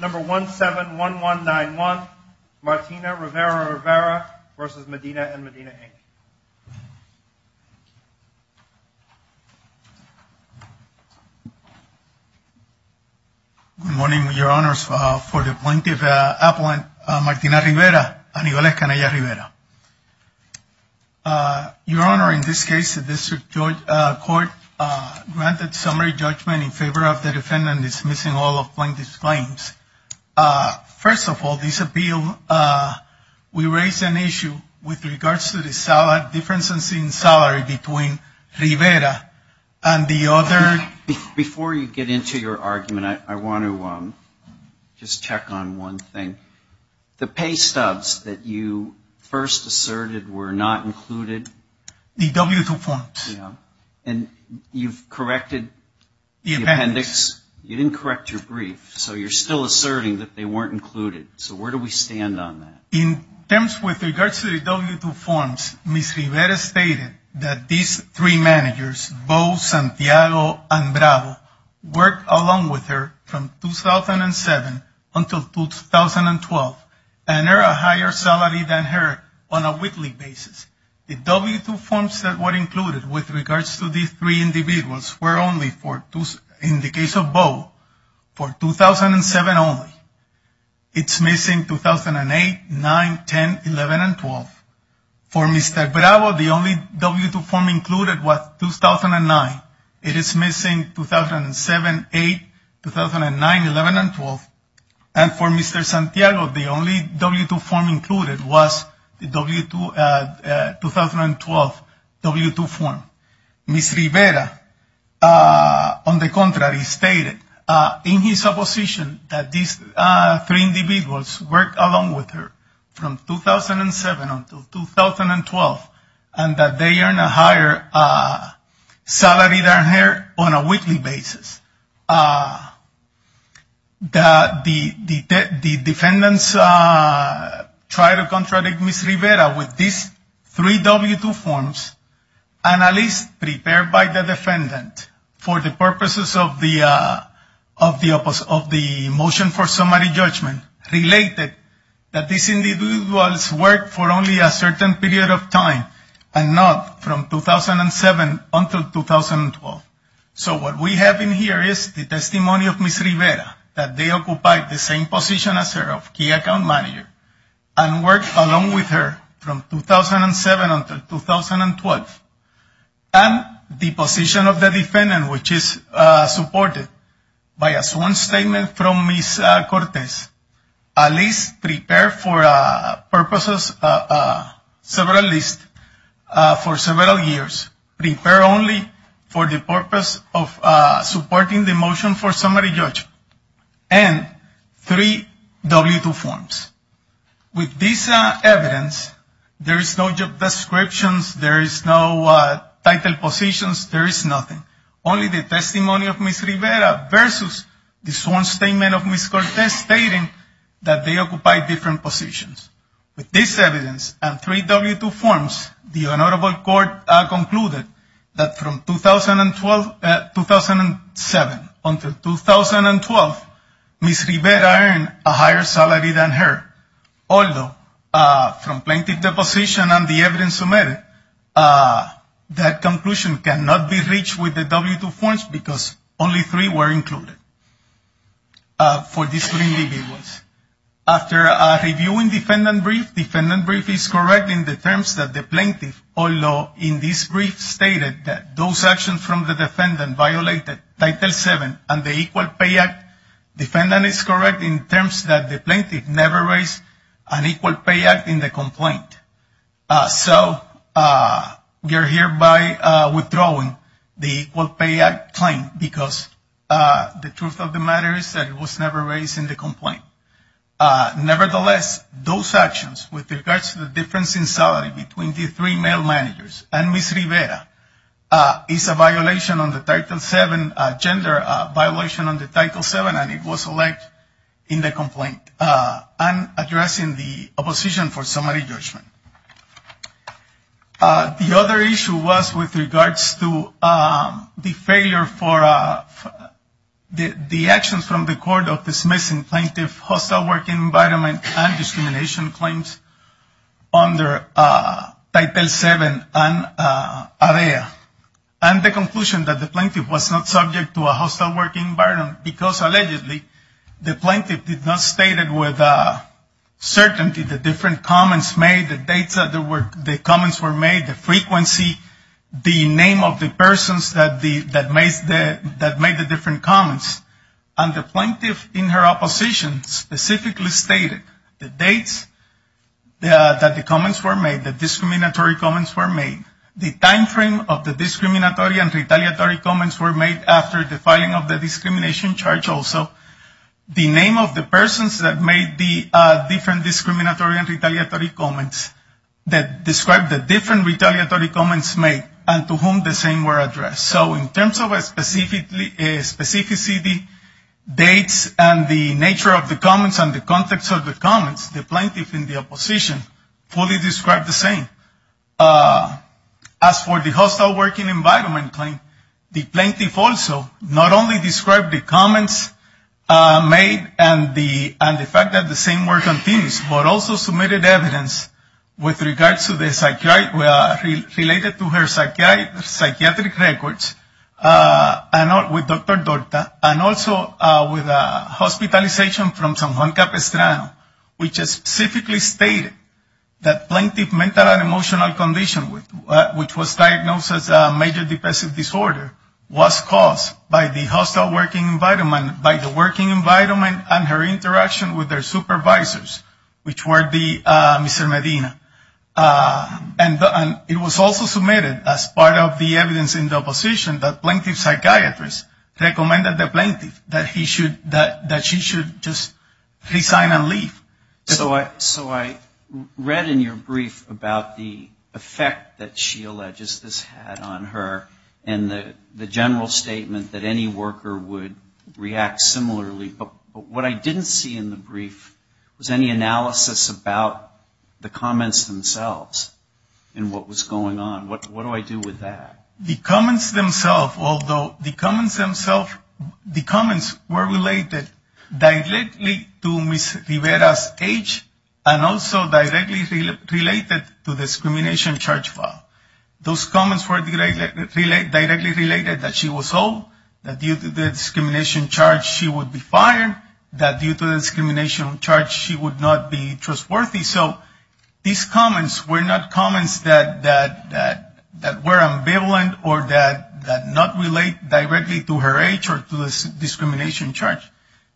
Number 171191, Martina Rivera-Rivera v. Medina & Medina, Inc. Good morning, your honors. For the plaintiff appellant, Martina Rivera, Anibal Escania Rivera. Your honor, in this case the district court granted summary judgment in favor of the defendant dismissing all of plaintiff's claims. First of all, this appeal, we raise an issue with regards to the difference in salary between Rivera and the other. Before you get into your argument, I want to just check on one thing. The pay stubs that you first asserted were not included. The W-2 forms. And you've corrected the appendix. You didn't correct your brief, so you're still asserting that they weren't included. So where do we stand on that? In terms with regards to the W-2 forms, Ms. Rivera stated that these three managers, Beau, Santiago, and Bravo, worked along with her from 2007 until 2012, and earned a higher salary than her on a W-2 form. The W-2 forms that were included with regards to these three individuals were only, in the case of Beau, for 2007 only. It's missing 2008, 9, 10, 11, and 12. For Mr. Bravo, the only W-2 form included was 2009. It is missing 2007, 8, 2009, 11, and 12. And for Mr. Santiago, the only W-2 form included was the 2012 W-2 form. Ms. Rivera, on the contrary, stated in his opposition that these three individuals worked along with her from 2007 until 2012, and that they earned a higher salary than her on a weekly basis. The defendants tried to contradict Ms. Rivera with these three W-2 forms, and a list prepared by the defendant for the purposes of the motion for summary judgment related that these individuals worked for only a certain period of time, and not from 2007 until 2012. So what we have in here is the testimony of Ms. Rivera, that they occupied the same position as her of key account manager, and worked along with her from 2007 until 2012. And the position of the defendant, Ms. Cortez, a list prepared for several years, prepared only for the purpose of supporting the motion for summary judgment, and three W-2 forms. With this evidence, there is no job descriptions, there is no title positions, there is nothing. Only the testimony of Ms. Rivera versus the sworn statement of Ms. Cortez stating that they occupied different positions. With this evidence, and three W-2 forms, the honorable court concluded that from 2007 until 2012, Ms. Rivera earned a higher salary than her, although from plaintiff deposition and the evidence submitted, that conclusion cannot be reached with the W-2 forms because only three were included for these three individuals. After reviewing defendant brief, defendant brief is correct in the terms that the plaintiff, although in this brief stated that those actions from the defendant violated Title VII and the Equal Pay Act, defendant is correct in terms that the plaintiff never raised an Equal Pay Act in the complaint. So we are hereby withdrawing the Equal Pay Act claim because the truth of the matter is that it was never raised in the complaint. Nevertheless, those actions with regards to the difference in salary between the three male managers and Ms. Rivera is a violation on the Title VII, gender violation on the Title VII, and it was elected in the complaint, and addressing the opposition for summary judgment. The other issue was with regards to the failure for the actions from the court of dismissing plaintiff's hostile working environment and discrimination claims under Title VII and AREA, and the conclusion that the plaintiff was not subject to a hostile working environment because allegedly the plaintiff did not state with certainty the different comments made, the dates that the comments were made, the frequency, the name of the persons that made the different comments, and the plaintiff in her opposition specifically stated the dates that the comments were made, the discriminatory comments were made, the time frame of the discriminatory and retaliatory comments were made after the filing of the discrimination charge also, the name of the persons that made the different discriminatory and retaliatory comments that described the different retaliatory comments made and to whom the same were addressed. So in terms of specificity, dates, and the nature of the comments and the context of the comments, the plaintiff in the hostile working environment claim, the plaintiff also not only described the comments made and the fact that the same work continues, but also submitted evidence with regards to the psychiatric records with Dr. Dorta, and also with hospitalization from San Juan Capistrano, which specifically stated that the plaintiff's mental and emotional condition, which was diagnosed as a major depressive disorder, was caused by the hostile working environment, by the working environment and her interaction with her supervisors, which were Mr. Medina. And it was also submitted as part of the evidence in the opposition that the plaintiff's psychiatrist recommended the plaintiff that she should just resign and leave. So I read in your brief about the effect that she alleges this had on her and the general statement that any worker would react similarly, but what I didn't see in the brief was any analysis about the comments themselves and what was going on. What do I do with that? The comments themselves, although the comments themselves, the comments were related directly to Ms. Rivera's age and also directly related to the discrimination charge file. Those comments were directly related that she was old, that due to the discrimination charge she would be fired, that due to the that not relate directly to her age or to the discrimination charge.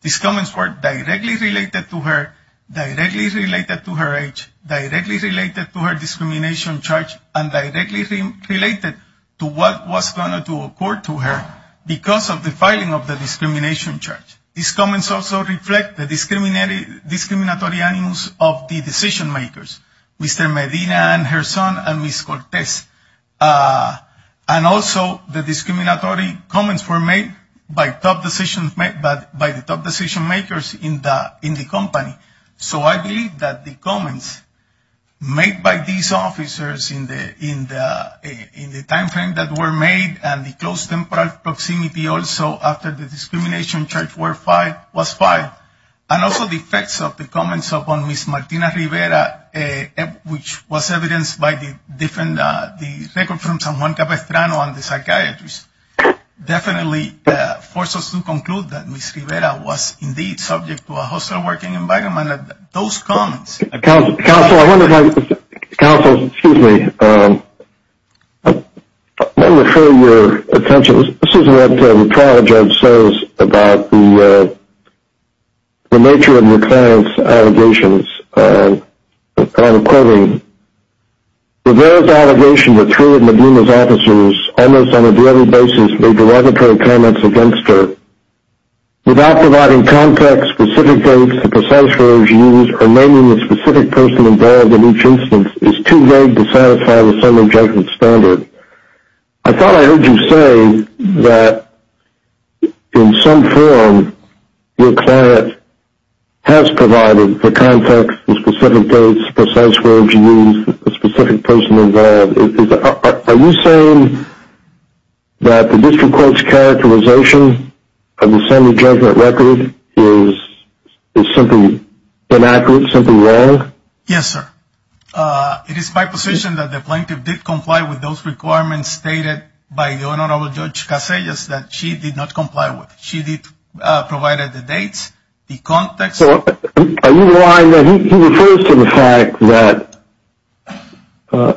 These comments were directly related to her, directly related to her age, directly related to her discrimination charge, and directly related to what was going to occur to her because of the filing of the discrimination charge. These comments also reflect the discrimination charge, and also the discriminatory comments were made by the top decision-makers in the company. So I believe that the comments made by these officers in the timeframe that were made and the close temporal proximity also after the discrimination charge was filed, and also the effects of the Milena Rivera which was evidenced by the record from San Juan Capistrano and the psychiatrists definitely force us to conclude that Ms. Rivera was indeed subject to a hostile working environment. Counsel, excuse me, let me refer your attention, this is what the trial judge says about the nature of Ms. Clarence's allegations, and I'm quoting, Rivera's allegation that three of Milena's officers almost on a daily basis made derogatory comments against her without providing context, specific dates, the precise words used, or naming the specific person involved in each instance is too vague to satisfy the summary judgment standard. I thought I heard you say that in some form Ms. Clarence has provided the context, the specific dates, the precise words used, the specific person involved, are you saying that the district court's characterization of the summary judgment record is something inaccurate, something wrong? Yes sir, it is my position that the plaintiff did comply with those requirements stated by the Honorable Judge Casillas that she did not comply with, she did provide the dates, the context. So are you implying that he refers to the fact that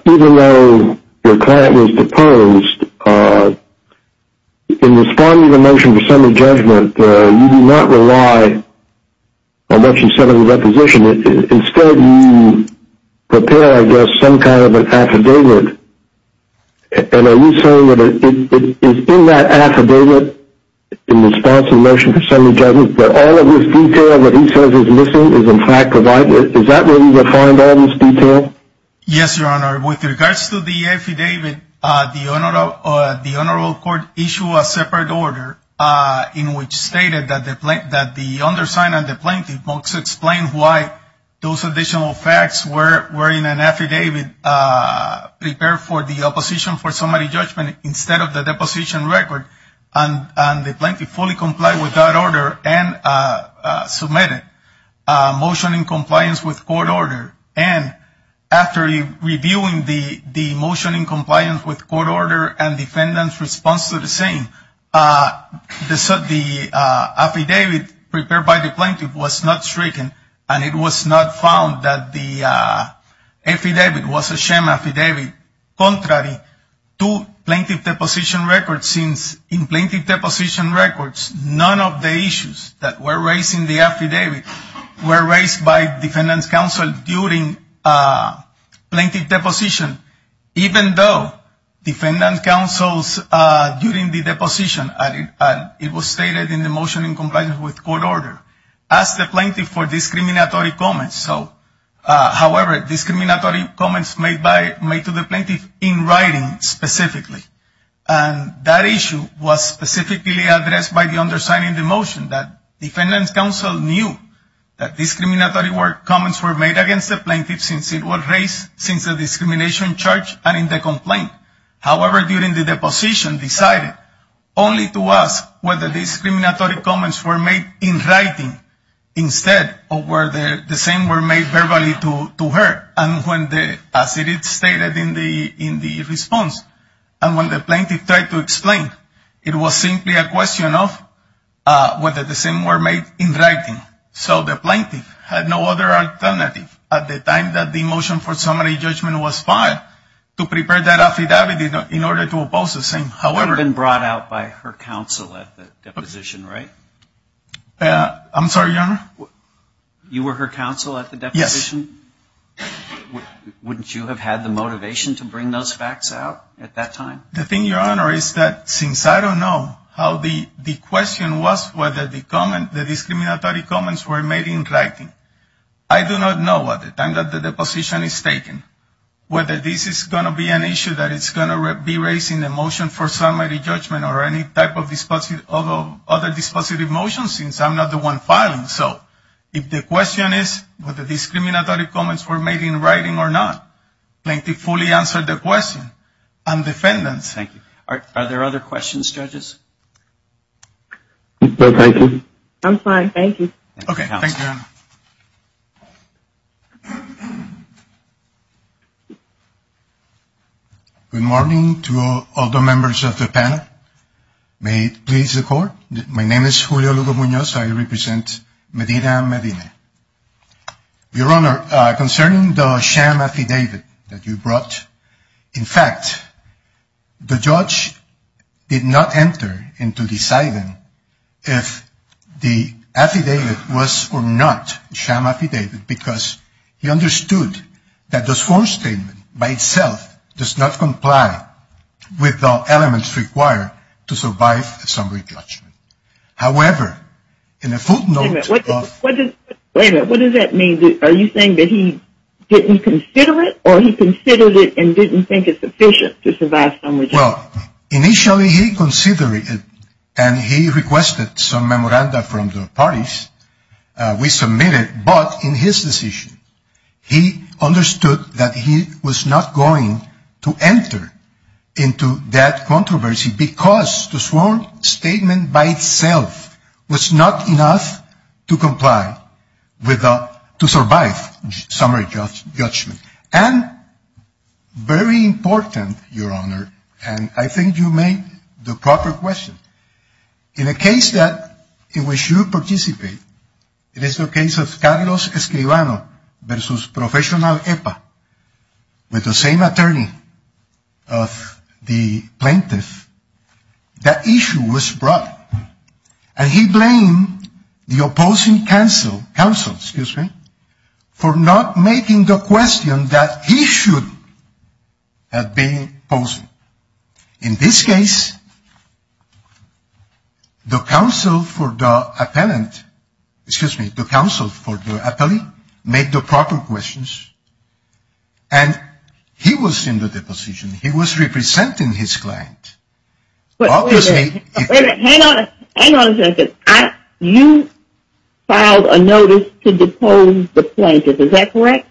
even though your client was deposed, in responding to the motion for summary judgment, you do not rely on what you said in the deposition, instead you prepare I guess some kind of an affidavit, and are you saying that it is in that affidavit, in response to the motion for summary judgment, that all of this detail that he says is missing is in fact provided, is that where you would find all this detail? The plaintiff then submitted a motion in compliance with court order, and after reviewing the motion in compliance with court order and defendant's response to the same, the affidavit prepared by the plaintiff was not stricken, and it was not found that the affidavit was a sham affidavit. Contrary to plaintiff deposition records, in plaintiff deposition records, none of the issues that were raised in the affidavit were raised by defendant's counsel during plaintiff deposition, even though defendant's counsel during the deposition, it was stated in the motion in compliance with court order, asked the plaintiff for discriminatory comments. However, discriminatory comments made to the plaintiff in writing specifically, and that issue was specifically addressed by the undersigned in the motion, that defendant's counsel knew that discriminatory comments were made against the plaintiff since it was raised since the discrimination charge and in the complaint. However, during the deposition, decided only to ask whether the discriminatory comments were made in writing instead of whether the same were made verbally to her, and when the, as it is stated in the response, and when the plaintiff tried to explain, it was simply a question of whether the same were made in writing. So the plaintiff had no other alternative at the time that the motion for summary judgment was filed to prepare that affidavit in order to oppose the same. However, It had been brought out by her counsel at the deposition, right? I'm sorry, your honor. You were her counsel at the deposition? Wouldn't you have had the motivation to bring those facts out at that time? The thing, your honor, is that since I don't know how the question was whether the discriminatory comments were made in writing, I do not know at the time that the deposition is taken whether this is going to be an issue that is going to be raised in the motion for summary judgment or any type of other dispositive motions since I'm not the one filing. So if the question is whether the discriminatory comments were made in writing or not, plaintiff fully answered the question and defendants. Thank you. Are there other questions, judges? I'm fine. Thank you. Okay. Good morning to all the members of the panel. May it please the court. My name is Julio Lugo Munoz. I represent Medina, Medina. Your honor, concerning the sham affidavit that you brought, in fact, the judge did not enter into deciding if the affidavit was or not sham affidavit because he understood that this form statement by itself does not comply with the elements required to survive a summary judgment. However, in a footnote of. Wait a minute. What does that mean? Are you saying that he didn't consider it or he considered it and didn't think it's efficient to survive summary judgment? Well, initially he considered it and he requested some memoranda from the parties. We submitted, but in his decision, he understood that he was not going to enter into that controversy because the sworn statement by itself was not enough to comply with the to survive summary judgment and very important, your honor, and I think you made the proper question in a case that in which you participate. It is the case of Carlos Escribano versus professional with the same attorney of the plaintiff. That issue was brought and he blamed the opposing counsel, counsel, excuse me, for not making the question that he should have been posing in this case. The counsel for the appellant, excuse me, the counsel for the appellee made the proper questions and he was in the deposition. He was representing his client. Wait a minute, hang on a second. You filed a notice to depose the plaintiff, is that correct?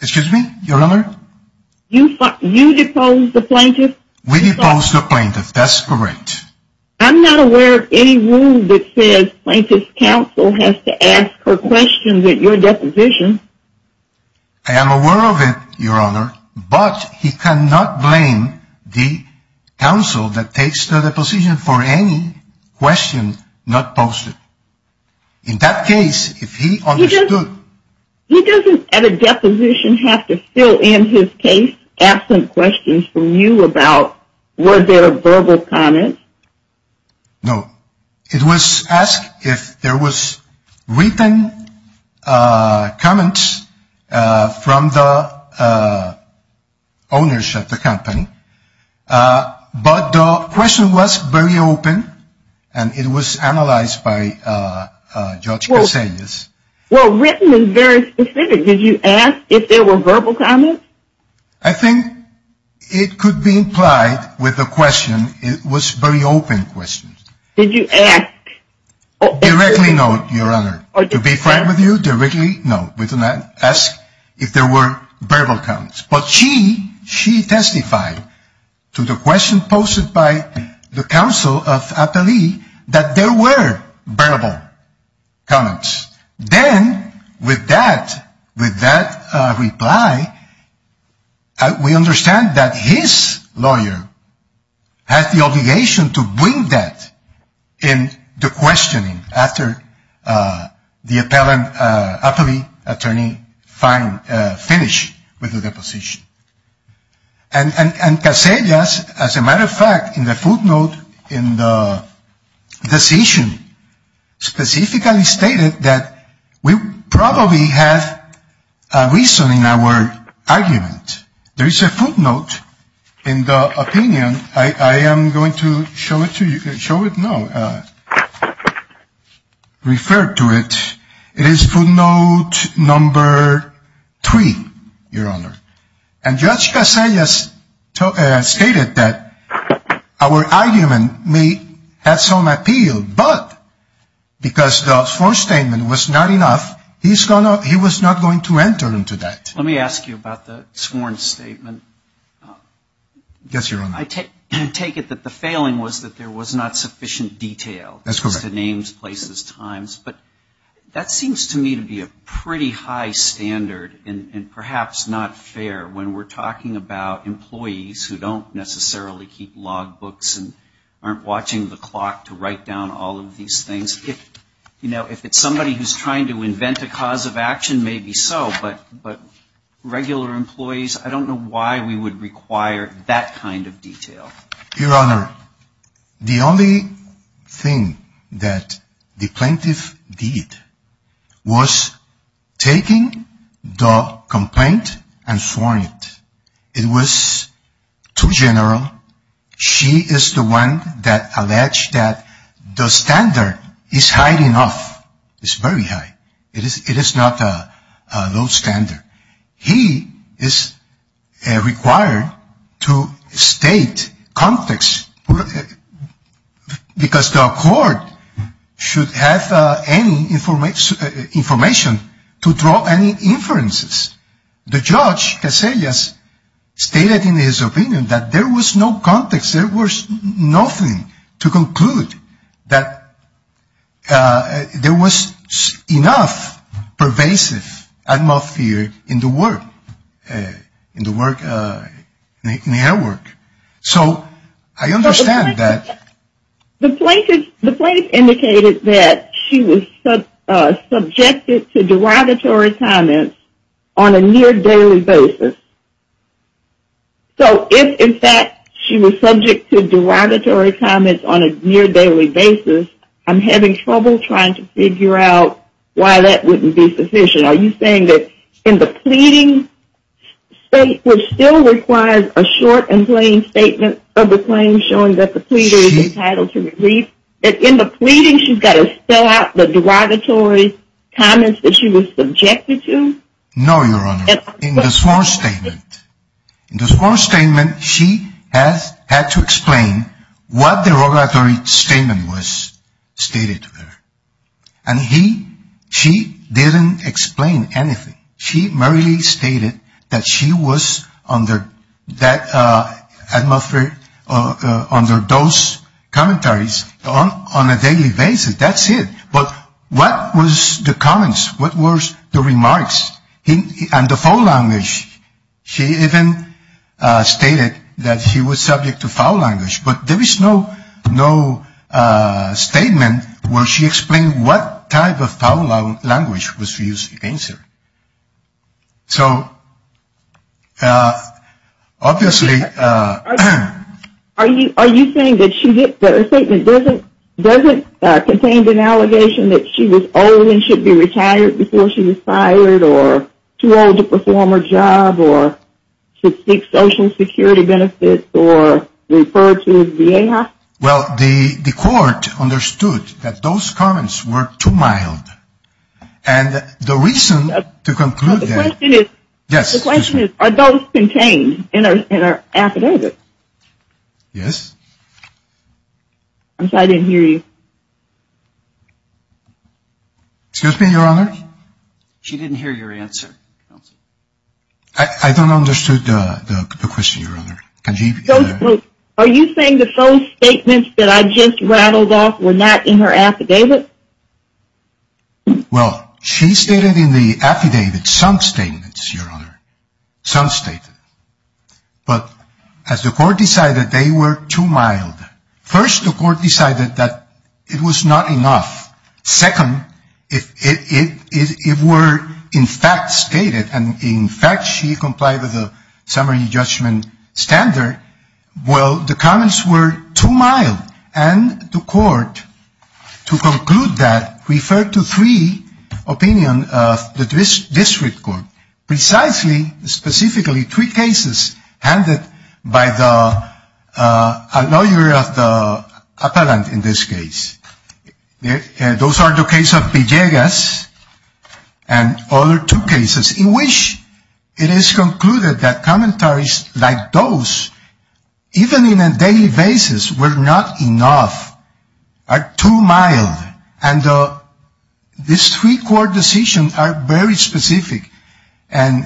Excuse me, your honor? You deposed the plaintiff? We deposed the plaintiff, that's correct. I'm not aware of any rule that says plaintiff's counsel has to ask her questions at your deposition. I am aware of it, your honor, but he cannot blame the counsel that takes the deposition for any question not posted. In that case, if he understood. He doesn't at a deposition have to fill in his case asking questions from you about were there verbal comments? No. It was asked if there was written comments from the owners of the company, but the question was very open and it was analyzed by Judge Casillas. Well, written is very specific. Did you ask if there were verbal comments? I think it could be implied with the question. It was a very open question. Did you ask? Directly no, your honor. To be frank with you, directly no. We did not ask if there were verbal comments. But she testified to the question posted by the counsel of Apellee that there were verbal comments. Then with that reply, we understand that his lawyer had the obligation to bring that in the questioning after the appellant, Apellee, attorney, finished with the deposition. And Casillas, as a matter of fact, in the footnote in the decision, specifically stated that we probably have a reason in our argument. There is a footnote in the opinion. I am going to show it to you. Show it now. Refer to it. It is footnote number three, your honor. And Judge Casillas stated that our argument may have some appeal, but because the sworn statement was not enough, he was not going to enter into that. Let me ask you about the sworn statement. Yes, your honor. I take it that the failing was that there was not sufficient detail. That's correct. But that seems to me to be a pretty high standard and perhaps not fair when we're talking about employees who don't necessarily keep log books and aren't watching the clock to write down all of these things. You know, if it's somebody who's trying to invent a cause of action, maybe so, but regular employees, I don't know why we would require that kind of detail. Your honor, the only thing that the plaintiff did was taking the complaint and sworn it. It was too general. She is the one that alleged that the standard is high enough. It's very high. It is not a low standard. He is required to state context because the court should have any information to draw any inferences. The judge, Casillas, stated in his opinion that there was no context. There was nothing to conclude that there was enough pervasive atmosphere in the work, in the air work. So I understand that. The plaintiff indicated that she was subjected to derogatory comments on a near daily basis. So if, in fact, she was subject to derogatory comments on a near daily basis, I'm having trouble trying to figure out why that wouldn't be sufficient. Are you saying that in the pleading state, which still requires a short and plain statement of the claim showing that the pleader is entitled to relief, that in the pleading she's got to spell out the derogatory comments that she was subjected to? No, your honor. In the sworn statement. In the sworn statement, she has had to explain what the derogatory statement was stated to her. And she didn't explain anything. She merely stated that she was under those commentaries on a daily basis. That's it. But what was the comments? What was the remarks? And the foul language. She even stated that she was subject to foul language. But there is no statement where she explained what type of foul language was used against her. So obviously. Are you saying that her statement doesn't contain an allegation that she was old and should be retired before she was fired or too old to perform her job Well, the court understood that those comments were too mild. And the reason to conclude that. The question is, are those contained in our affidavit? Yes. I'm sorry, I didn't hear you. Excuse me, your honor. She didn't hear your answer. I don't understand the question, your honor. Are you saying that those statements that I just rattled off were not in her affidavit? Well, she stated in the affidavit some statements, your honor. Some statements. But as the court decided, they were too mild. First, the court decided that it was not enough. Second, it were in fact stated and in fact she complied with the summary judgment standard. Well, the comments were too mild. And the court, to conclude that, referred to three opinions of the district court. Precisely, specifically three cases handed by the lawyer of the appellant in this case. Those are the case of Villegas and other two cases in which it is concluded that commentaries like those, even in a daily basis, were not enough, are too mild. And these three court decisions are very specific and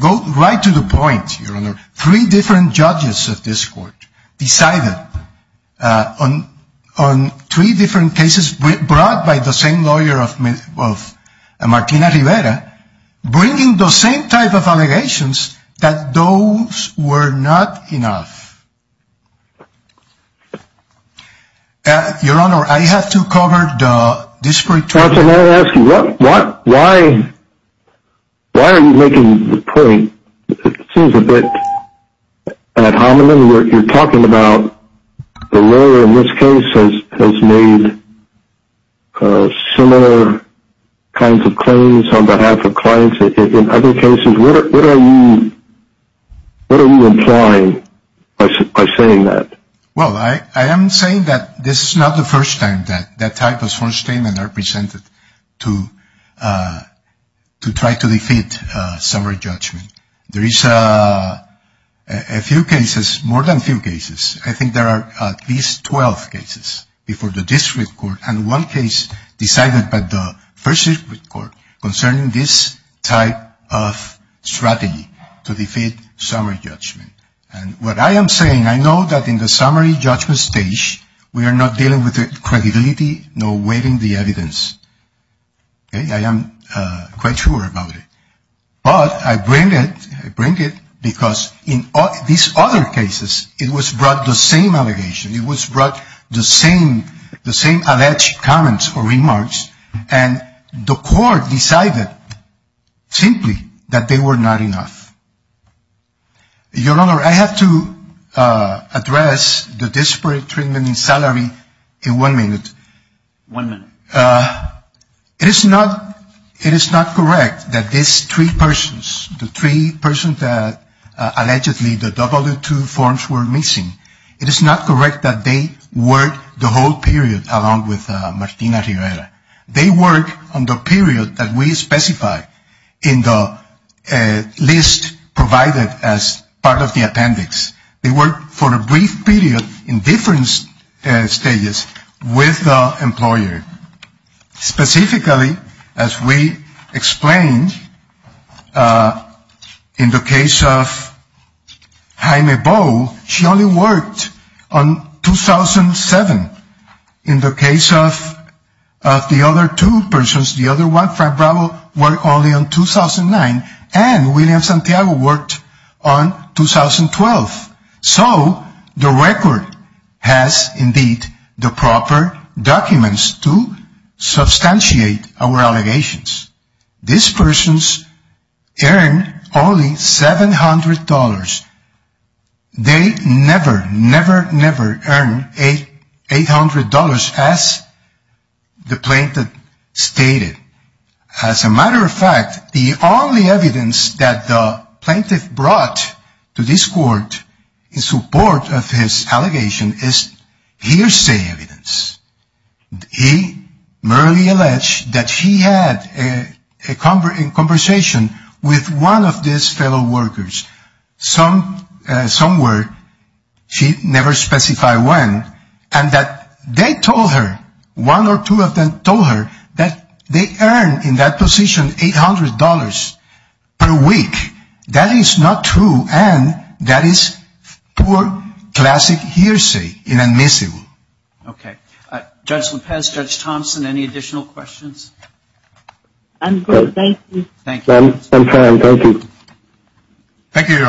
go right to the point, your honor. Three different judges of this court decided on three different cases brought by the same lawyer of Martina Rivera, bringing the same type of allegations that those were not enough. Your honor, I have to cover the district court. I have to ask you, why are you making the point, it seems a bit ad hominem, you're talking about the lawyer in this case has made similar kinds of claims on behalf of clients in other cases. What are you implying by saying that? Well, I am saying that this is not the first time that that type of sworn statement are presented to try to defeat summary judgment. There is a few cases, more than a few cases, I think there are at least 12 cases before the district court and one case decided by the first district court concerning this type of strategy to defeat summary judgment. And what I am saying, I know that in the summary judgment stage, we are not dealing with credibility, no weight in the evidence. I am quite sure about it. But I bring it because in these other cases, it was brought the same allegation. It was brought the same alleged comments or remarks and the court decided simply that they were not enough. Your Honor, I have to address the disparate treatment in salary in one minute. One minute. It is not correct that these three persons, the three persons that allegedly the W-2 forms were missing, it is not correct that they worked the whole period along with Martina Rivera. They worked on the period that we specify in the list provided as part of the appendix. They worked for a brief period in different stages with the employer. Specifically, as we explained, in the case of Jaime Bowe, she only worked on 2007. In the case of the other two persons, the other one, Frank Bravo, worked only on 2009 and William Santiago worked on 2012. So, the record has indeed the proper documents to substantiate our allegations. These persons earned only $700. They never, never, never earned $800 as the plaintiff stated. As a matter of fact, the only evidence that the plaintiff brought to this court in support of his allegation is hearsay evidence. He merely alleged that he had a conversation with one of his fellow workers somewhere. She never specified when and that they told her, one or two of them told her, that they earned in that position $800 per week. That is not true and that is poor classic hearsay, inadmissible. Okay. Judge Lopez, Judge Thompson, any additional questions? I'm good. Thank you. Thank you. I'm fine. Thank you. Thank you, Your Honor.